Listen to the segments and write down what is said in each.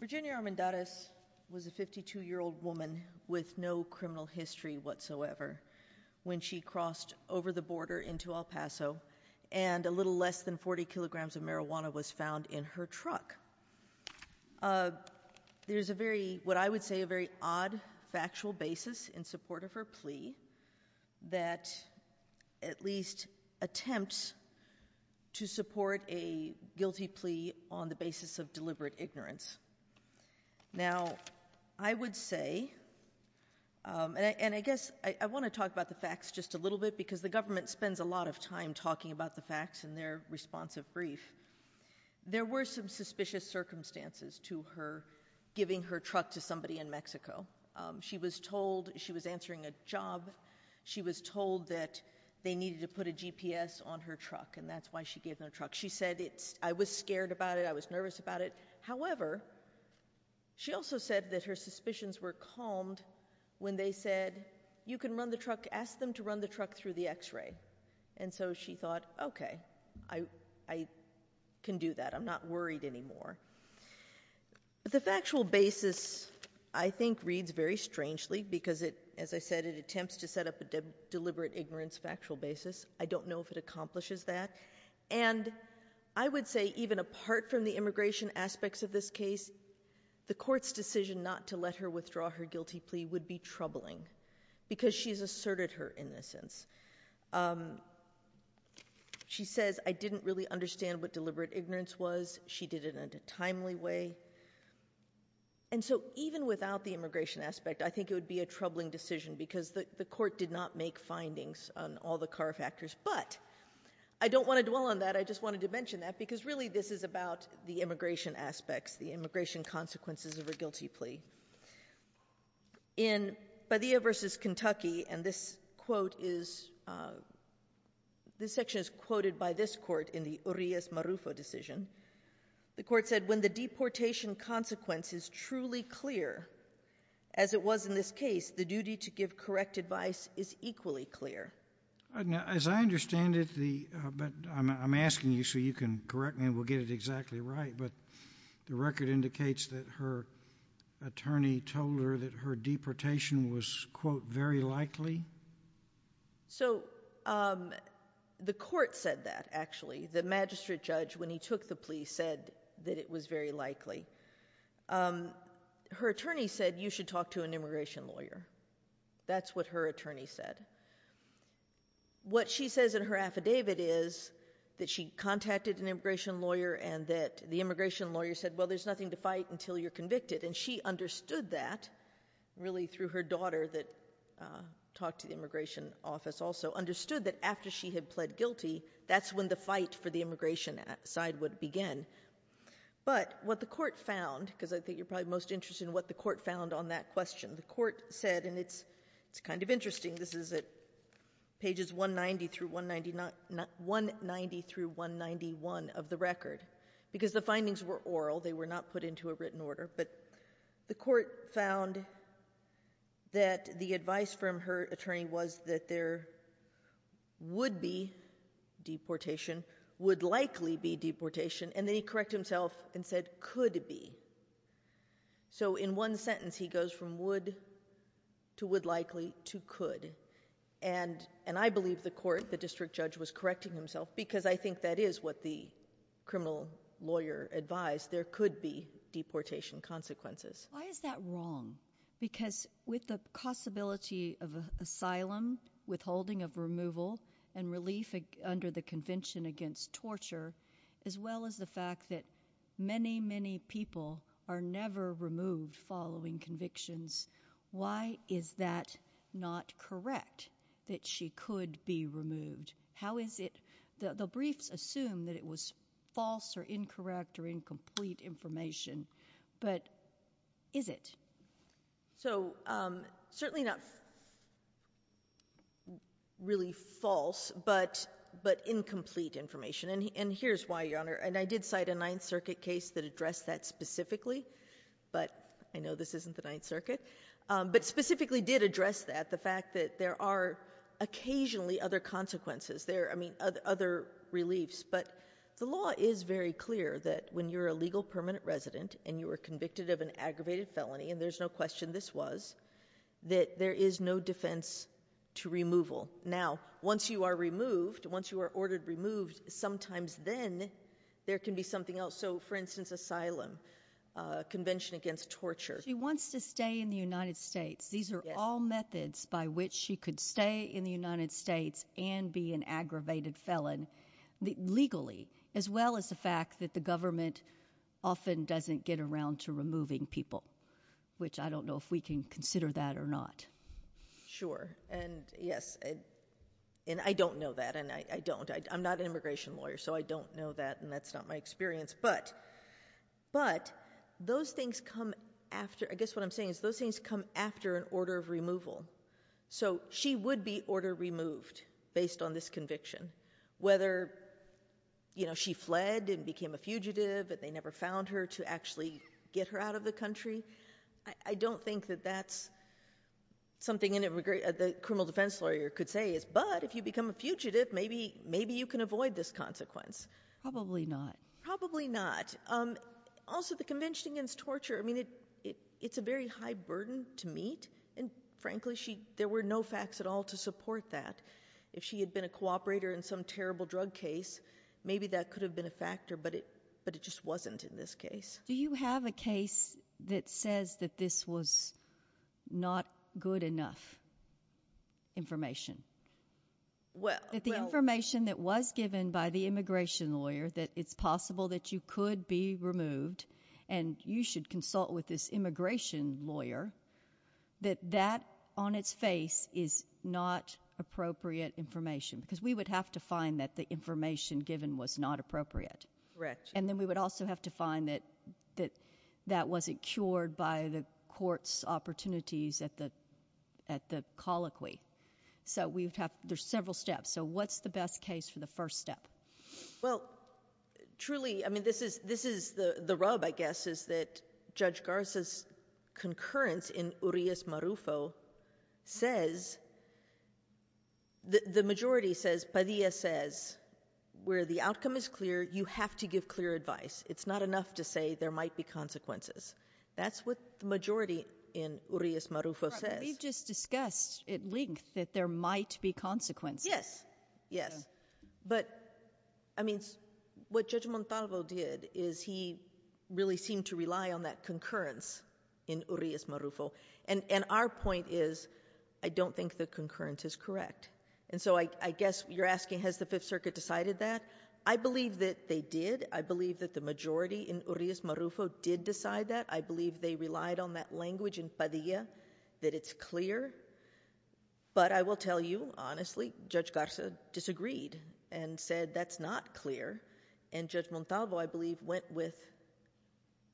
Virginia Armendariz was a 52-year-old woman with no criminal history whatsoever when she crossed over the border into El Paso and a little less than 40 kilograms of marijuana was found in her truck. There's a very what I would say a very odd factual basis in support of her plea that at least attempts to support a guilty plea on the basis of deliberate ignorance. Now I would say and I guess I want to talk about the facts just a little bit because the government spends a lot of time talking about the facts in their responsive brief. There were some suspicious circumstances to her giving her truck to somebody in Mexico. She was told she was answering a job she was told that they need to put a GPS on her truck and that's why she gave her truck. She said it's I was scared about it I was nervous about it however she also said that her suspicions were calmed when they said you can run the truck ask them to run the truck through the x-ray and so she thought okay I can do that I'm not worried anymore. The factual basis I think reads very strangely because it as I said it attempts to set up a deliberate ignorance factual basis. I don't know if it accomplishes that and I would say even apart from the immigration aspects of this case the court's decision not to let her withdraw her guilty plea would be troubling because she's asserted her innocence. She says I didn't really understand what deliberate ignorance was she did it in a timely way and so even without the immigration aspect I think it would be a troubling decision because the court did not make findings on all the car factors but I don't want to dwell on that I just wanted to mention that because really this is about the immigration aspects the immigration consequences of a guilty plea. In Padilla versus Kentucky and this quote is this section is quoted by this court in the Urias Marufo decision the court said when the deportation consequence is truly clear as it was in this case the duty to give correct advice is equally clear. As I understand it the but I'm asking you so you can correct me and we'll get it exactly right but the record indicates that her attorney told her that her deportation was quote very likely? So the court said that actually the magistrate judge when he took the plea said that it was very likely. Her attorney said you should talk to an immigration lawyer. That's what her attorney said. What she says in her affidavit is that she contacted an immigration lawyer and that the immigration lawyer said well there's nothing to fight until you're convicted and she understood that really through her daughter that talked to the immigration office also understood that after she had pled guilty that's when the fight for the immigration side would begin but what the court found because I think you're probably most interested in what the court found on that question the court said and it's it's kind of interesting this is it pages 190 through 190 not not 190 through 191 of the record because the findings were oral they were not put into a written order but the court found that the advice from her attorney was that there would be deportation would likely be deportation and then he correct himself and said could be so in one sentence he goes from would to would likely to could and and I believe the court the district judge was correcting himself because I think that is what the criminal lawyer advised there could be deportation consequences why is that wrong because with the possibility of asylum withholding of removal and relief under the Convention against torture as well as the fact that many many people are never removed following convictions why is that not correct that she could be removed how is it that the briefs assume that it was false or incorrect or incomplete information but is it so certainly not really false but but incomplete information and here's why your honor and I did cite a Ninth Circuit case that address that specifically but I know this isn't the Ninth Circuit but specifically did address that the fact that there are occasionally other consequences there I mean other reliefs but the law is very clear that when you're a legal permanent resident and you were convicted of an aggravated felony and there's no question this was that there is no defense to removal now once you are removed once you are ordered removed sometimes then there can be something else so for instance asylum Convention against torture she wants to stay in the United States these are all methods by which she could stay in the United States and be an aggravated felon legally as well as the fact that the government often doesn't get around to removing people which I don't know if we can consider that or not sure and yes and I don't know that and I don't I'm not an immigration lawyer so I don't know that and that's not my experience but but those things come after I guess what I'm saying is those things come after an order of removal so she would be order removed based on this conviction whether you know she fled and became a fugitive but they never found her to actually get her out of the country I don't think that that's something in it regret the criminal defense lawyer could say is but if you become a fugitive maybe maybe you can avoid this consequence probably not probably not also the Convention against torture I mean it it's a very high burden to meet and frankly she there were no facts at all to support that if she had been a cooperator in some terrible drug case maybe that could have been a factor but it but it just wasn't in this case do you have a case that says that this was not good enough information well the information that was given by the immigration lawyer that it's possible that you could be removed and you should consult with this immigration lawyer that that on its face is not appropriate information because we would have to find that the information given was not appropriate correct and then we would also have to find that that that wasn't cured by the courts opportunities at the at the so we have there's several steps so what's the best case for the first step well truly I mean this is this is the the rub I guess is that judge Garza's concurrence in Urias Marufo says the majority says Padilla says where the outcome is clear you have to give clear advice it's not enough to say there might be consequences that's what the majority in Urias Marufo says we've just discussed at length that there might be consequences yes yes but I mean what judge Montalvo did is he really seemed to rely on that concurrence in Urias Marufo and and our point is I don't think the concurrence is correct and so I guess you're asking has the Fifth Circuit decided that I believe that they did I believe that the majority in Urias Marufo did decide that I believe they relied on that language in Padilla that it's clear but I will tell you honestly judge Garza disagreed and said that's not clear and judge Montalvo I believe went with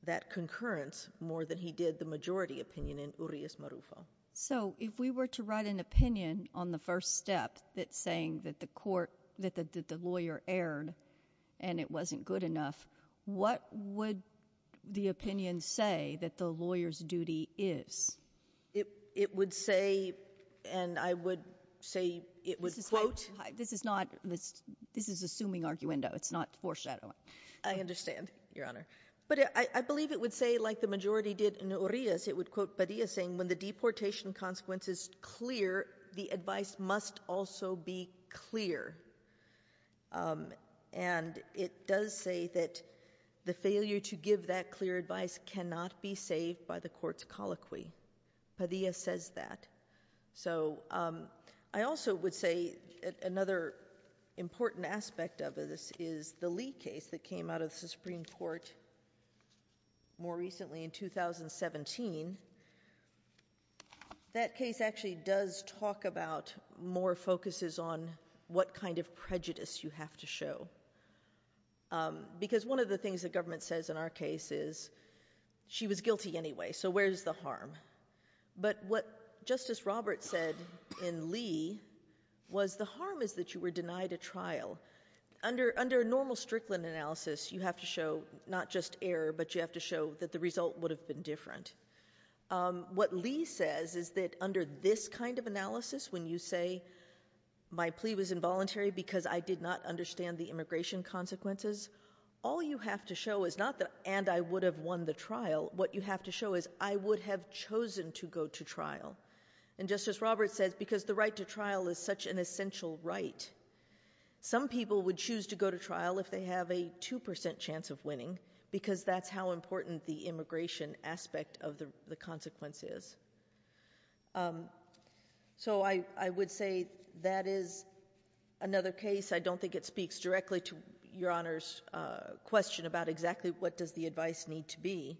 that concurrence more than he did the majority opinion in Urias Marufo so if we were to write an opinion on the first step that's saying that the court that the lawyer erred and it wasn't good enough what would the lawyer's duty is it it would say and I would say it was quote this is not this this is assuming arguendo it's not foreshadowing I understand your honor but I believe it would say like the majority did in Urias it would quote Padilla saying when the deportation consequence is clear the advice must also be clear and it does say that the failure to give that clear advice cannot be saved by the court's colloquy Padilla says that so I also would say another important aspect of this is the Lee case that came out of the Supreme Court more recently in 2017 that case actually does talk about more focuses on what kind of prejudice you have to show because one of the things that government says in our case is she was guilty anyway so where's the harm but what Justice Roberts said in Lee was the harm is that you were denied a trial under under normal Strickland analysis you have to show not just error but you have to show that the result would have been different what Lee says is that under this kind of analysis when you say my plea was involuntary because I did not understand the immigration consequences all you have to show is not that and I would have won the trial what you have to show is I would have chosen to go to trial and Justice Roberts says because the right to trial is such an essential right some people would choose to go to trial if they have a two percent chance of winning because that's how important the immigration aspect of the consequence is so I I would say that is another case I don't think it speaks directly to your honor's question about exactly what does the advice need to be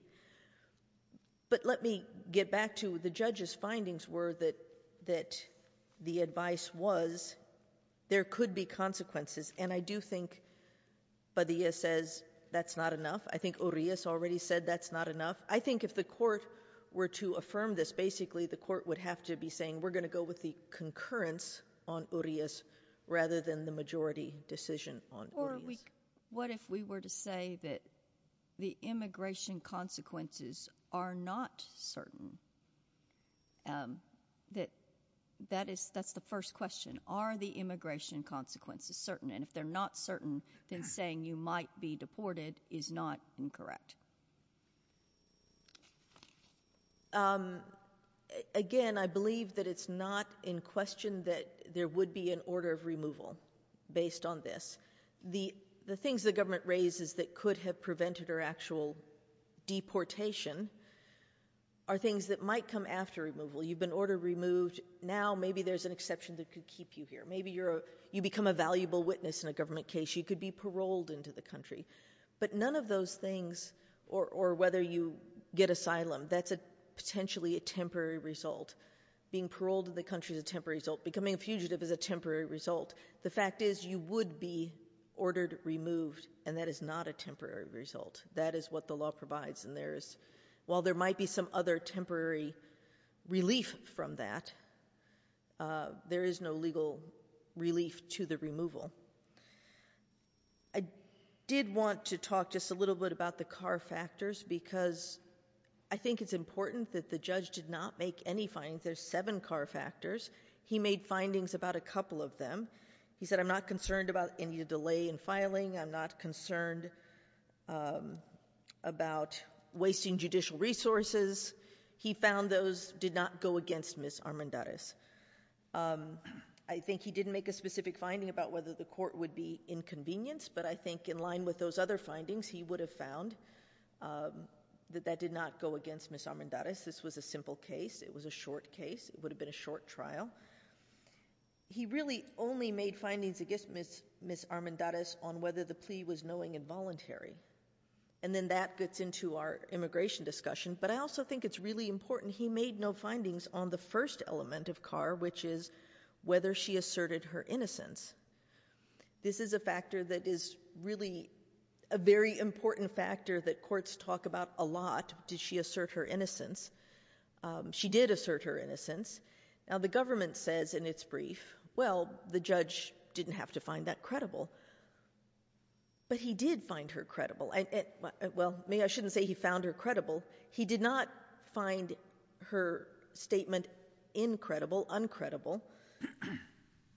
but let me get back to the judges findings were that that the advice was there could be consequences and I do think Padilla says that's not enough I already said that's not enough I think if the court were to affirm this basically the court would have to be saying we're going to go with the concurrence on areas rather than the majority decision on what if we were to say that the immigration consequences are not certain that that is that's the first question are the immigration consequences certain and if they're not certain than saying you might be deported is not incorrect again I believe that it's not in question that there would be an order of removal based on this the the things the government raises that could have prevented or actual deportation are things that might come after removal you've been order removed now maybe there's an exception that could keep you here maybe you're you become a valuable witness in a government case you could be paroled into the country but none of those things or or whether you get asylum that's a potentially a temporary result being paroled in the country is a temporary result becoming a fugitive is a temporary result the fact is you would be ordered removed and that is not a temporary result that is what the law provides and there's while there might be some other temporary relief from that there is no legal relief to the removal I did want to talk just a little bit about the car factors because I think it's important that the judge did not make any findings there's seven car factors he made findings about a couple of them he said I'm not concerned about any delay in filing I'm not concerned about wasting judicial resources he found those did not go against Miss Armendariz I think he didn't make a specific finding about whether the court would be inconvenience but I think in line with those other findings he would have found that that did not go against Miss Armendariz this was a simple case it was a short case it would have been a short trial he really only made findings against Miss Armendariz on whether the plea was knowing involuntary and then that gets into our immigration discussion but I also think it's really on the first element of car which is whether she asserted her innocence this is a factor that is really a very important factor that courts talk about a lot did she assert her innocence she did assert her innocence now the government says in its brief well the judge didn't have to find that credible but he did find her credible and well me I shouldn't say he found her credible he did not find her statement incredible uncredible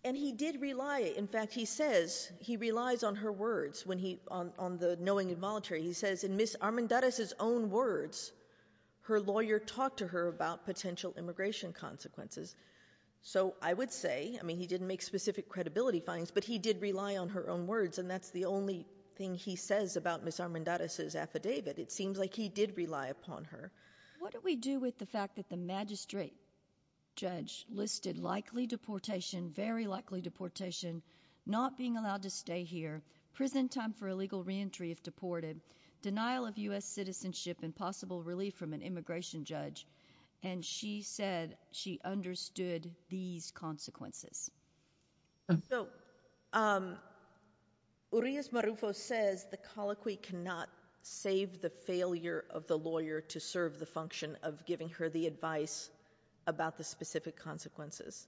and he did rely in fact he says he relies on her words when he on the knowing involuntary he says in Miss Armendariz his own words her lawyer talked to her about potential immigration consequences so I would say I mean he didn't make specific credibility finds but he did rely on her own words and that's the only thing he what do we do with the fact that the magistrate judge listed likely deportation very likely deportation not being allowed to stay here prison time for illegal reentry if deported denial of u.s. citizenship and possible relief from an immigration judge and she said she understood these consequences so Urias Marufo says the colloquy cannot save the failure of the lawyer to serve the function of giving her the advice about the specific consequences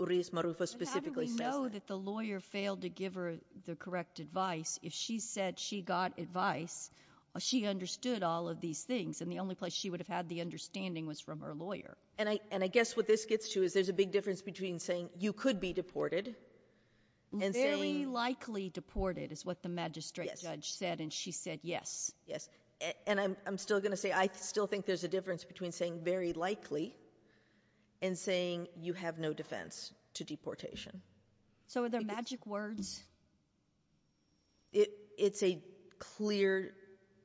Urias Marufo specifically says that the lawyer failed to give her the correct advice if she said she got advice she understood all of these things and the only place she would have had the understanding was from her lawyer and I and I guess what this gets to is there's a big difference between saying you could be deported and very likely deported is what the magistrate judge said and she said yes yes and I'm still gonna say I still think there's a difference between saying very likely and saying you have no defense to deportation so are there magic words it it's a clear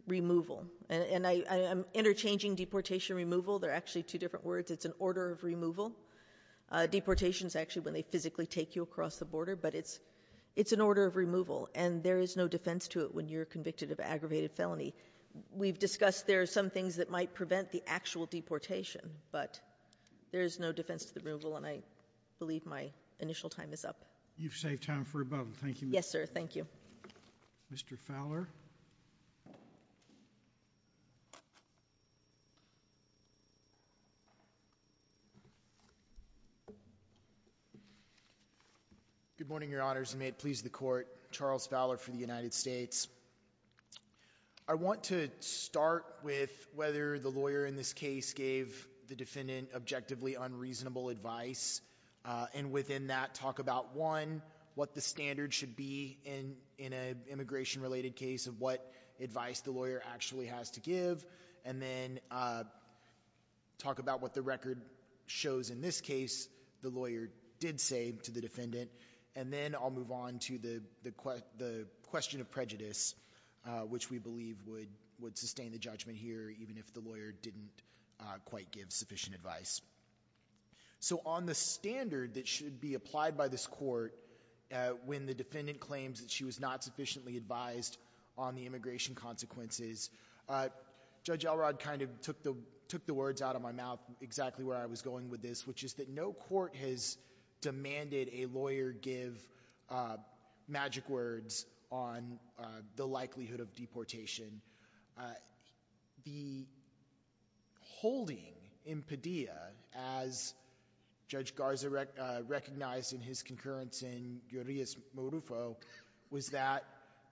removal and I am interchanging deportation removal they're actually two different words it's an order of removal deportations actually when they physically take you across the border but it's it's an order of removal and there is no defense to it when you're convicted of aggravated felony we've discussed there are some things that might prevent the actual deportation but there is no defense to the removal and I believe my initial time is up you've saved time for a good morning your honors and may it please the court Charles Fowler for the United States I want to start with whether the lawyer in this case gave the defendant objectively unreasonable advice and within that talk about one what the standard should be in in a immigration related case of what advice the lawyer actually has to give and then talk about what the record shows in this case the lawyer did say to the defendant and then I'll move on to the the question of prejudice which we believe would would sustain the judgment here even if the lawyer didn't quite give sufficient advice so on the standard that should be applied by this court when the defendant claims that she was not sufficiently advised on the immigration consequences judge Elrod kind of took the took the words out of my mouth exactly where I was going with this which is that no court has demanded a lawyer give magic words on the likelihood of deportation the holding in Padilla as judge Garza recognized in his concurrence in Urias Modufo was that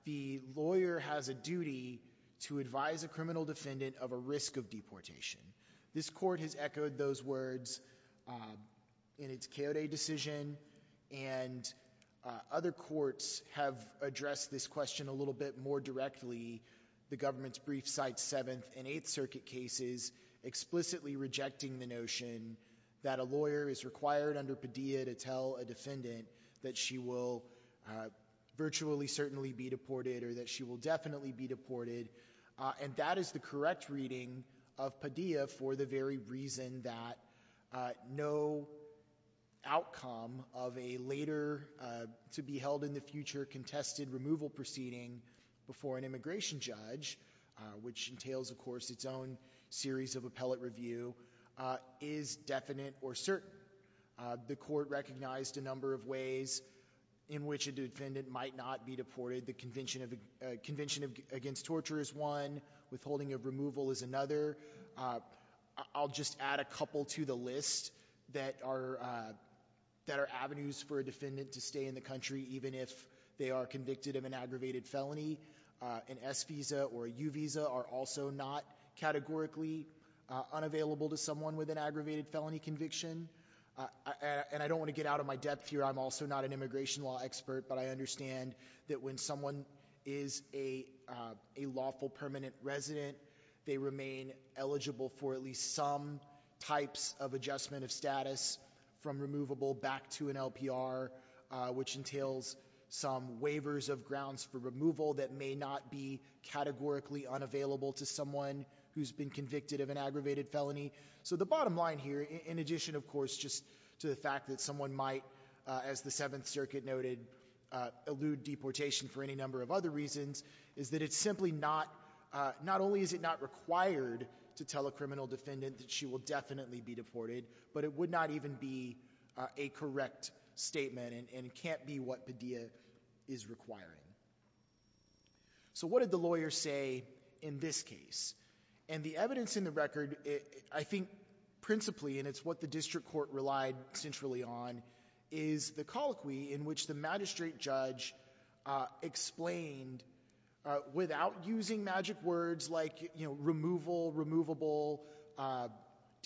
the lawyer has a duty to advise a criminal defendant of a risk of deportation this court has echoed those words in its chaotic decision and other courts have addressed this question a little bit more directly the government's brief site 7th and 8th Circuit cases explicitly rejecting the notion that a lawyer is required under to tell a defendant that she will virtually certainly be deported or that she will definitely be deported and that is the correct reading of Padilla for the very reason that no outcome of a later to be held in the future contested removal proceeding before an immigration judge which entails of course its own series of appellate review is definite or certain the court recognized a number of ways in which a defendant might not be deported the convention of the Convention of Against Torture is one withholding of removal is another I'll just add a couple to the list that are that are avenues for a defendant to stay in the country even if they are convicted of an aggravated felony an S visa are also not categorically unavailable to someone with an aggravated felony conviction and I don't want to get out of my depth here I'm also not an immigration law expert but I understand that when someone is a lawful permanent resident they remain eligible for at least some types of adjustment of status from removable back to an LPR which entails some waivers of grounds for removal that may not be categorically unavailable to someone who's been convicted of an aggravated felony so the bottom line here in addition of course just to the fact that someone might as the Seventh Circuit noted elude deportation for any number of other reasons is that it's simply not not only is it not required to tell a criminal defendant that she will definitely be deported but it would not even be a correct statement and can't be what Padilla is requiring so what did the lawyer say in this case and the evidence in the record it I think principally and it's what the district court relied centrally on is the colloquy in which the magistrate judge explained without using magic words like you know removal removable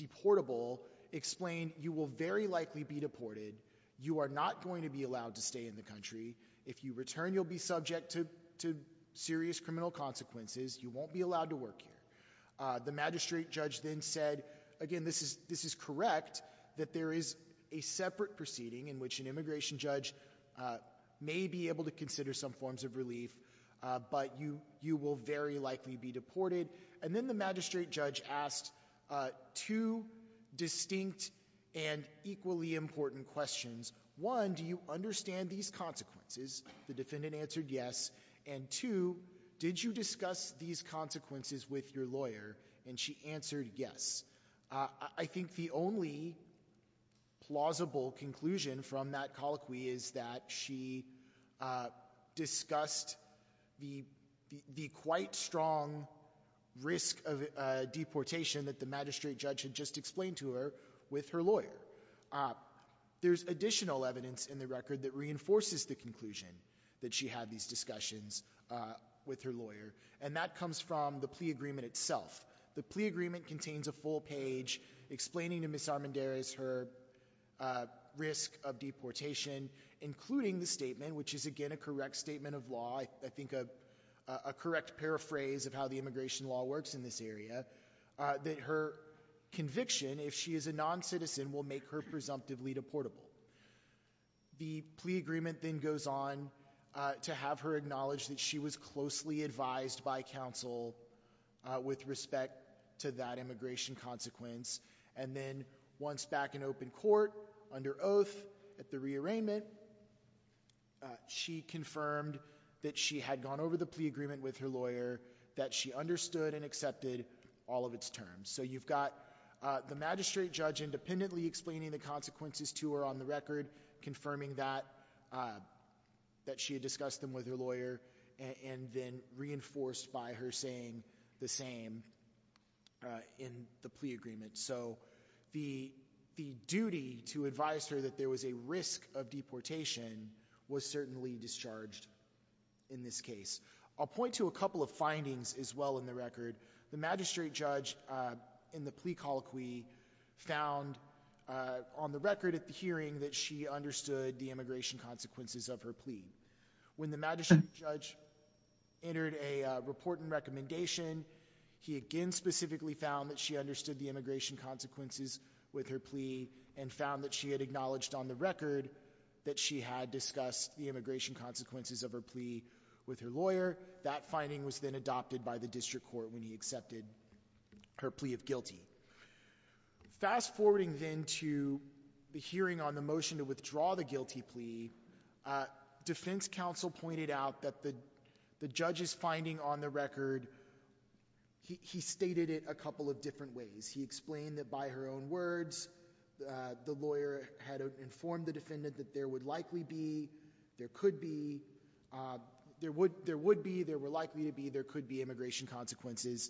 deportable explained you will very likely be deported you are not going to be allowed to stay in the country if you return you'll be subject to serious criminal consequences you won't be allowed to work here the magistrate judge then said again this is this is correct that there is a separate proceeding in which an immigration judge may be able to consider some forms of relief but you you will very likely be deported and then the magistrate judge asked two distinct and equally important questions one do you understand these consequences the defendant answered yes and two did you discuss these consequences with your lawyer and she answered yes I think the only plausible conclusion from that colloquy is that she discussed the the quite strong risk of deportation that the magistrate judge had just explained to her with her lawyer there's additional evidence in the record that reinforces the conclusion that she had these discussions with her lawyer and that comes from the plea agreement itself the plea agreement contains a full page explaining to miss Armendariz her risk of deportation including the statement which is again a correct statement of law I think a correct paraphrase of how the area that her conviction if she is a non-citizen will make her presumptively deportable the plea agreement then goes on to have her acknowledge that she was closely advised by counsel with respect to that immigration consequence and then once back in open court under oath at the rearrangement she confirmed that she had gone over the plea agreement with her lawyer that she understood and all of its terms so you've got the magistrate judge independently explaining the consequences to her on the record confirming that that she had discussed them with her lawyer and then reinforced by her saying the same in the plea agreement so the the duty to advise her that there was a risk of deportation was certainly discharged in this case I'll point to a couple of findings as well in the record the magistrate judge in the plea colloquy found on the record at the hearing that she understood the immigration consequences of her plea when the magistrate judge entered a report and recommendation he again specifically found that she understood the immigration consequences with her plea and found that she had acknowledged on the record that she had discussed the immigration consequences of her plea with her lawyer that finding was then adopted by the district court when he accepted her plea of guilty fast forwarding then to the hearing on the motion to withdraw the guilty plea defense counsel pointed out that the the judge is finding on the record he stated it a couple of different ways he explained that by her own words the lawyer had informed the defendant that there would likely be there could be there would there would be there were likely to be there could be immigration consequences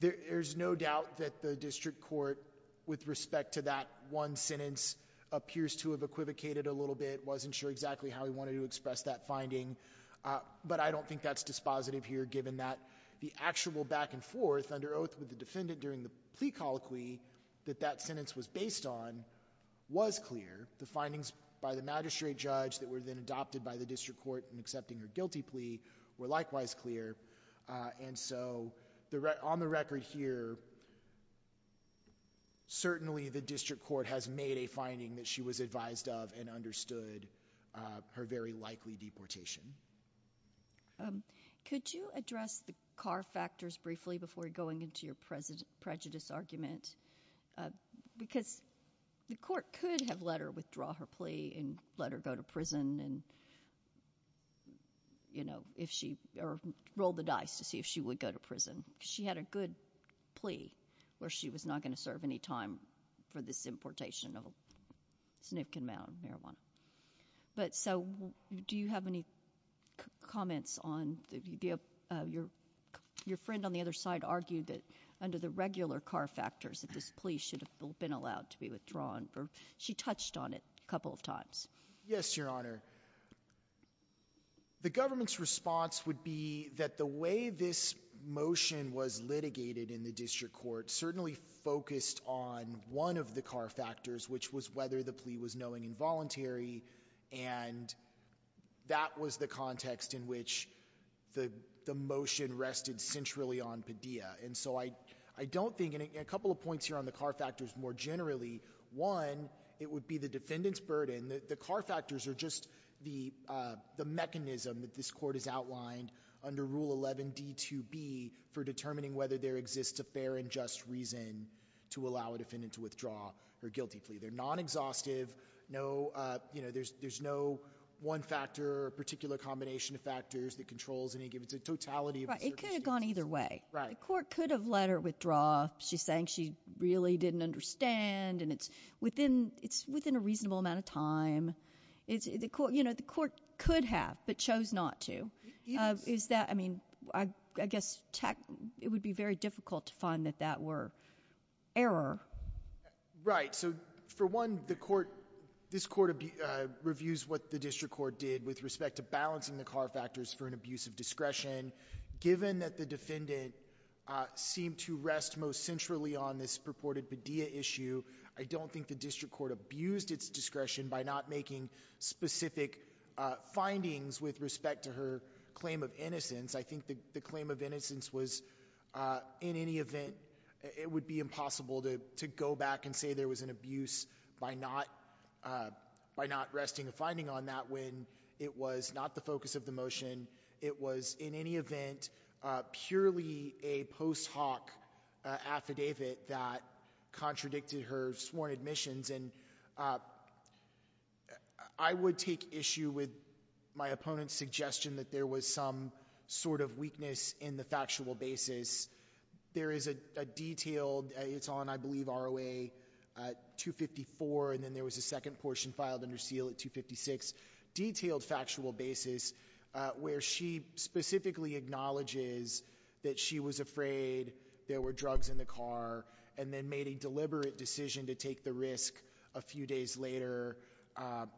there's no doubt that the district court with respect to that one sentence appears to have equivocated a little bit wasn't sure exactly how he wanted to express that finding but I don't think that's dispositive here given that the actual back-and-forth under oath with the defendant during the plea colloquy that that sentence was based on was clear the findings by the by the district court and accepting her guilty plea were likewise clear and so the right on the record here certainly the district court has made a finding that she was advised of and understood her very likely deportation could you address the car factors briefly before going into your president prejudice argument because the court could have let her withdraw her plea and let her go to prison and you know if she rolled the dice to see if she would go to prison she had a good plea where she was not going to serve any time for this importation of a significant amount of marijuana but so do you have any comments on your your friend on the other side argued that under the regular car factors that this plea should have been allowed to be withdrawn for she touched on it a couple of times yes your honor the government's response would be that the way this motion was litigated in the district court certainly focused on one of the car factors which was whether the plea was knowing involuntary and that was the context in which the the motion rested centrally on Padilla and so I I don't think in a couple of points here on the car factors more generally one it would be the defendants burden that the car factors are just the the mechanism that this court is outlined under rule 11d to be for determining whether there exists a fair and just reason to allow a defendant to withdraw her guilty plea they're non-exhaustive no you know there's there's no one factor or particular combination of factors that controls and he gives a totality it could have gone either way right the court could have let her withdraw she's saying she really didn't understand and it's within it's within a reasonable amount of time it's the court you know the court could have but chose not to is that I mean I guess it would be very difficult to find that that were error right so for one the court this court reviews what the district court did with respect to balancing the car factors for an abuse of discretion given that the on this purported Padilla issue I don't think the district court abused its discretion by not making specific findings with respect to her claim of innocence I think the claim of innocence was in any event it would be impossible to go back and say there was an abuse by not by not resting a finding on that when it was not the focus of the motion it was in any event purely a post hoc affidavit that contradicted her sworn admissions and I would take issue with my opponent's suggestion that there was some sort of weakness in the factual basis there is a detailed it's on I believe ROA 254 and then there was a second portion filed under seal at 256 detailed factual basis where she specifically acknowledges that she was afraid there were drugs in the car and then made a deliberate decision to take the risk a few days later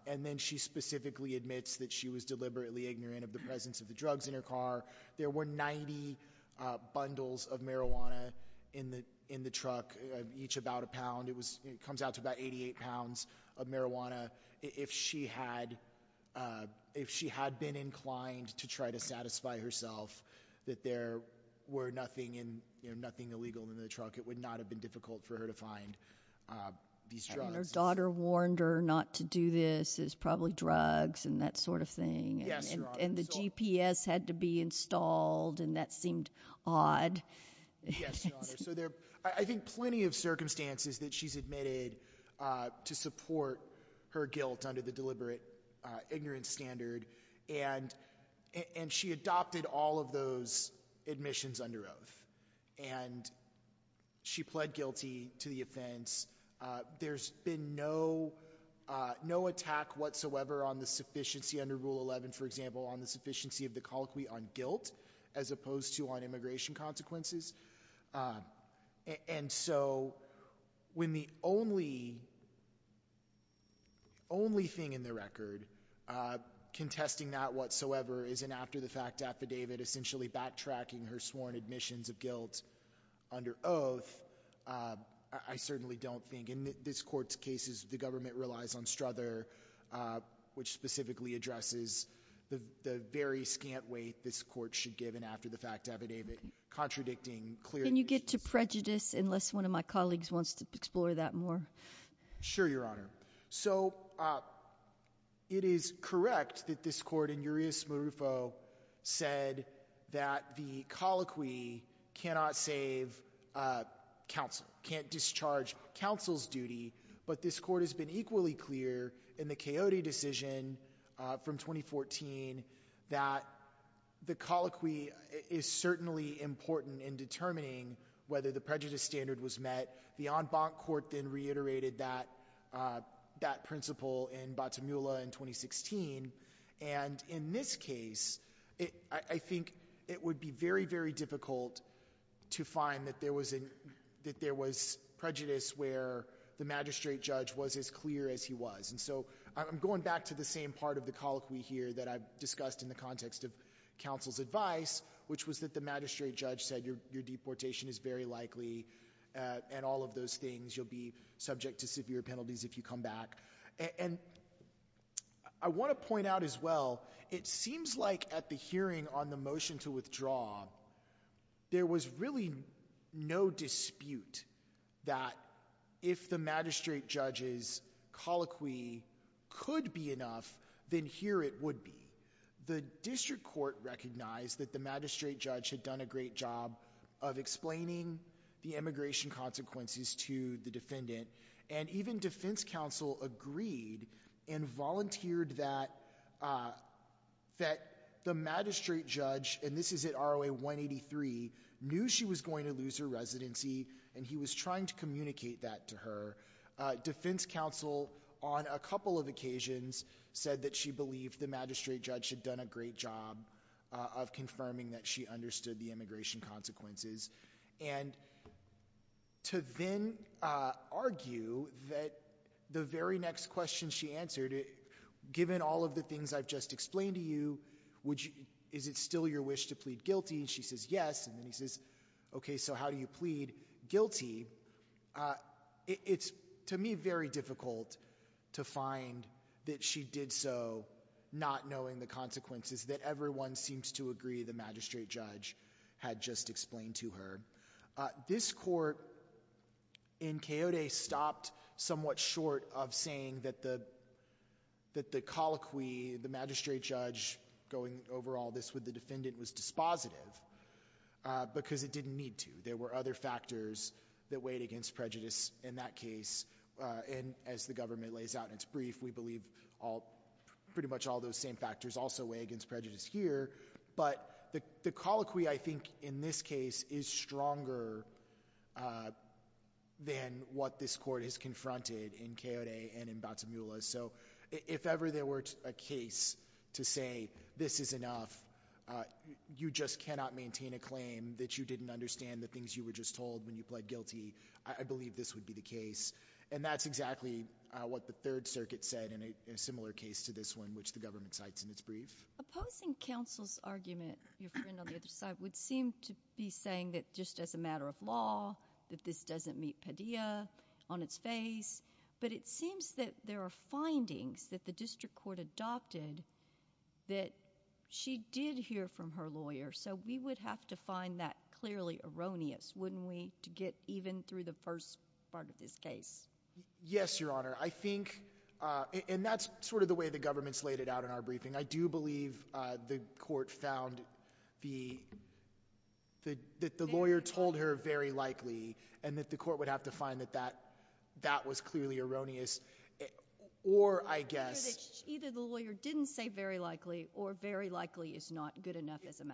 and then she specifically admits that she was deliberately ignorant of the presence of the drugs in her car there were 90 bundles of marijuana in the in the truck each about a pound it was it comes out to about 88 pounds of marijuana if she had if she had been inclined to try to satisfy herself that there were nothing and nothing illegal in the truck it would not have been difficult for her to find these drugs daughter warned her not to do this is probably drugs and that sort of thing and the GPS had to be installed and that seemed odd I think plenty of circumstances that she's admitted to support her guilt under the deliberate ignorance standard and and she adopted all of those admissions under oath and she pled guilty to the offense there's been no no attack whatsoever on the sufficiency under rule 11 for example on the sufficiency of the colloquy on guilt as opposed to on immigration consequences and so when the only only thing in the record contesting that whatsoever isn't after the fact affidavit essentially backtracking her sworn admissions of guilt under oath I certainly don't think in this court's cases the government relies on Struther which specifically addresses the very scant weight this court should given after the fact affidavit contradicting clearly you get to prejudice unless one of my colleagues wants to explore that more sure your honor so it is correct that this court in Urias Marufo said that the colloquy cannot save counsel can't discharge counsel's duty but this court has been equally clear in the coyote decision from 2014 that the colloquy is certainly important in determining whether the prejudice standard was met the en banc court then reiterated that that principle in Bottomula in 2016 and in this case it I think it would be very very difficult to find that there was in that there was prejudice where the magistrate judge was as clear as he was and so I'm going back to the same part of the colloquy here that I've discussed in the context of counsel's advice which was that the magistrate judge said your deportation is very likely and all of those things you'll be subject to severe penalties if you come back and I want to point out as well it seems like at the hearing on the motion to withdraw there was really no dispute that if the district court recognized that the magistrate judge had done a great job of explaining the immigration consequences to the defendant and even defense counsel agreed and volunteered that that the magistrate judge and this is it ROA 183 knew she was going to lose her residency and he was trying to communicate that to her defense counsel on a couple of occasions said that she believed the magistrate judge had done a great job of confirming that she understood the immigration consequences and to then argue that the very next question she answered it given all of the things I've just explained to you which is it still your wish to plead guilty she says yes and then he says okay so how do you plead guilty it's to me very difficult to find that she did so not knowing the consequences that everyone seems to agree the magistrate judge had just explained to her this court in coyote stopped somewhat short of saying that the that the colloquy the magistrate judge going over all this with the defendant was dispositive because it didn't need to there were other factors that weighed against prejudice in that case and as the pretty much all those same factors also weigh against prejudice here but the colloquy I think in this case is stronger than what this court has confronted in coyote and in Bata Mula so if ever there were a case to say this is enough you just cannot maintain a claim that you didn't understand the things you were just told when you pled guilty I believe this would be the case and that's exactly what the Third Circuit said in a similar case to this one which the government cites in its brief opposing counsel's argument would seem to be saying that just as a matter of law that this doesn't meet Padilla on its face but it seems that there are findings that the district court adopted that she did hear from her lawyer so we would have to find that clearly erroneous wouldn't we to get even through the first part of this case yes your honor I think and that's sort of the way the government's laid it out in our briefing I do believe the court found the that the lawyer told her very likely and that the court would have to find that that that was clearly erroneous or I guess either the lawyer didn't say very likely or very likely is not good enough as a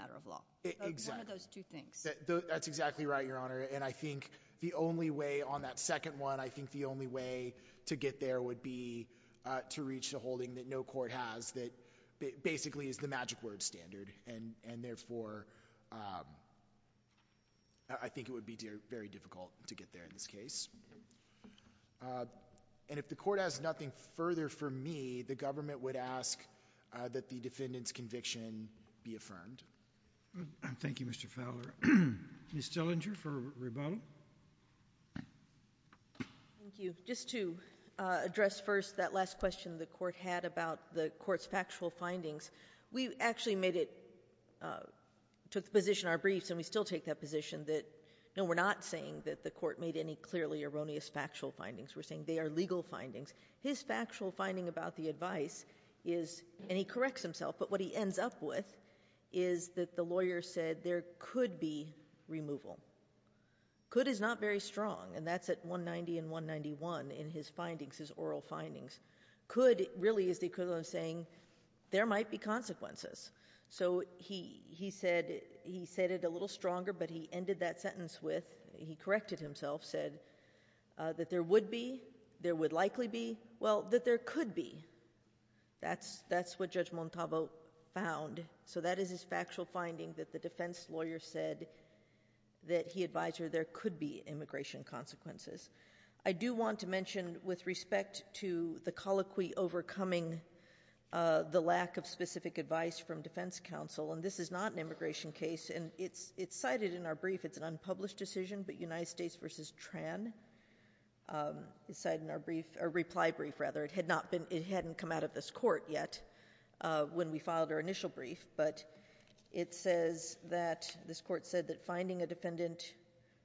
and I think the only way on that second one I think the only way to get there would be to reach the holding that no court has that basically is the magic word standard and and therefore I think it would be very difficult to get there in this case and if the court has nothing further for me the government would ask that the defendants conviction be affirmed thank you mr. Fowler you still injured for rebuttal thank you just to address first that last question the court had about the courts factual findings we actually made it to the position our briefs and we still take that position that no we're not saying that the court made any clearly erroneous factual findings we're saying they are legal findings his factual finding about the advice is and he removal could is not very strong and that's at 190 and 191 in his findings his oral findings could really is the equivalent of saying there might be consequences so he he said he said it a little stronger but he ended that sentence with he corrected himself said that there would be there would likely be well that there could be that's that's what judge Montalvo found so that is his factual finding that the defense lawyer said that he advised her there could be immigration consequences I do want to mention with respect to the colloquy overcoming the lack of specific advice from defense counsel and this is not an immigration case and it's it's cited in our brief it's an unpublished decision but United States versus Tran inside in our brief or reply brief rather it had not been it hadn't come out of this court yet when we filed our it says that this court said that finding a defendant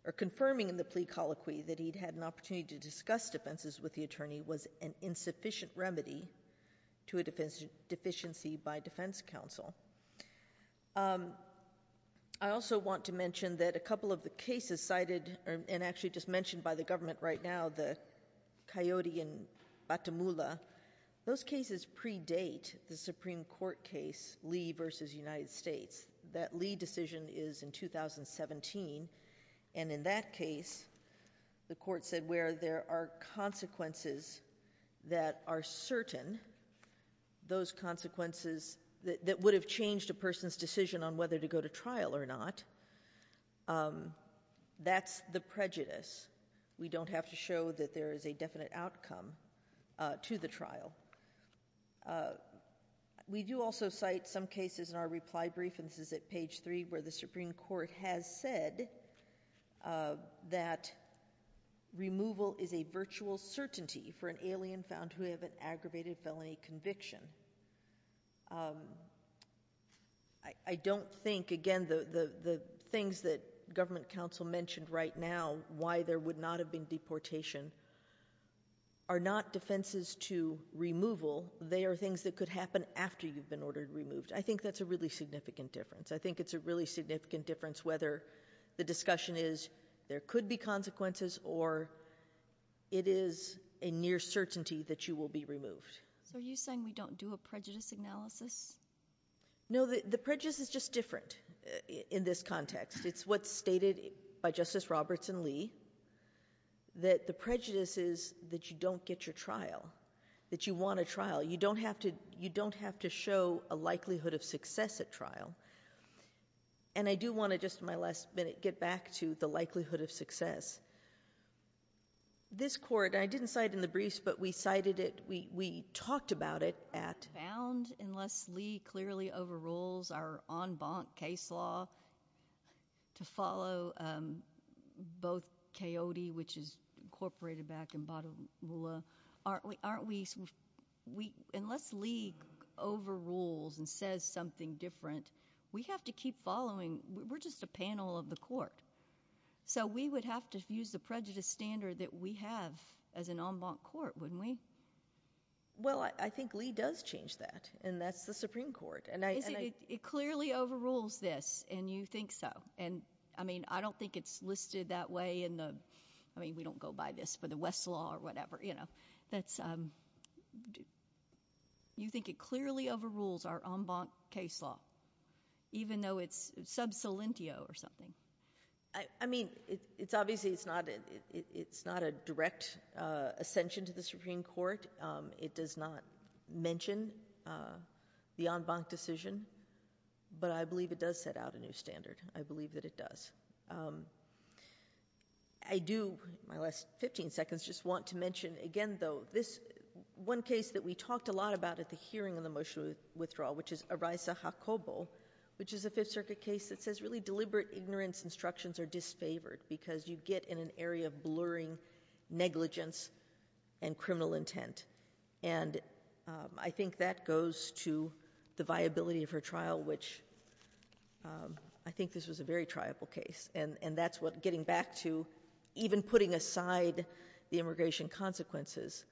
or confirming in the plea colloquy that he'd had an opportunity to discuss defenses with the attorney was an insufficient remedy to a defense deficiency by defense counsel I also want to mention that a couple of the cases cited and actually just mentioned by the government right now the coyote in Batamula those cases predate the Supreme Court case Lee versus United States that Lee decision is in 2017 and in that case the court said where there are consequences that are certain those consequences that would have changed a person's decision on whether to go to trial or not that's the prejudice we don't have to show that there is a definite outcome to the trial we do also cite some cases in our reply brief and this is at page 3 where the Supreme Court has said that removal is a virtual certainty for an alien found who have an aggravated felony conviction I don't think again the the things that government counsel mentioned right now why there would not have been deportation are not defenses to removal they are things that could happen after you've been ordered removed I think that's a really significant difference I think it's a really significant difference whether the discussion is there could be consequences or it is a near certainty that you will be removed so are you saying we don't do a prejudice analysis no the prejudice is just different in this context it's what's Robertson Lee that the prejudice is that you don't get your trial that you want a trial you don't have to you don't have to show a likelihood of success at trial and I do want to just my last minute get back to the likelihood of success this court I didn't cite in the briefs but we cited it we talked about it at unless Lee clearly overrules our on bonk case law to follow both coyote which is incorporated back in bottom aren't we aren't we we unless Lee over rules and says something different we have to keep following we're just a panel of the court so we would have to use the prejudice standard that we have as an on bonk court when we well I think Lee does change that and that's the Supreme Court and I think it clearly overrules this and you think so and I mean I don't think it's listed that way in the I mean we don't go by this but the West law or whatever you know that's um do you think it clearly overrules our on bonk case law even though it's sub solentio or something I mean it's obviously it's not it it's not a direct ascension to the Supreme Court it does not mention the on bonk decision but I believe it does set out a new standard I believe that it does I do my last 15 seconds just want to mention again though this one case that we talked a lot about at the hearing of the motion withdrawal which is a rise to hot cobalt which is a Fifth Circuit case that says really get in an area of blurring negligence and criminal intent and I think that goes to the viability of her trial which I think this was a very triable case and and that's what getting back to even putting aside the immigration consequences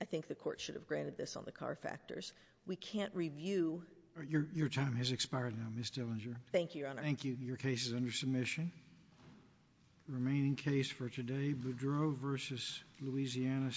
I think the court should have granted this on the car factors we can't review your time has expired now miss Dillinger thank you thank you your case is under submission remaining case for today but drove versus Louisiana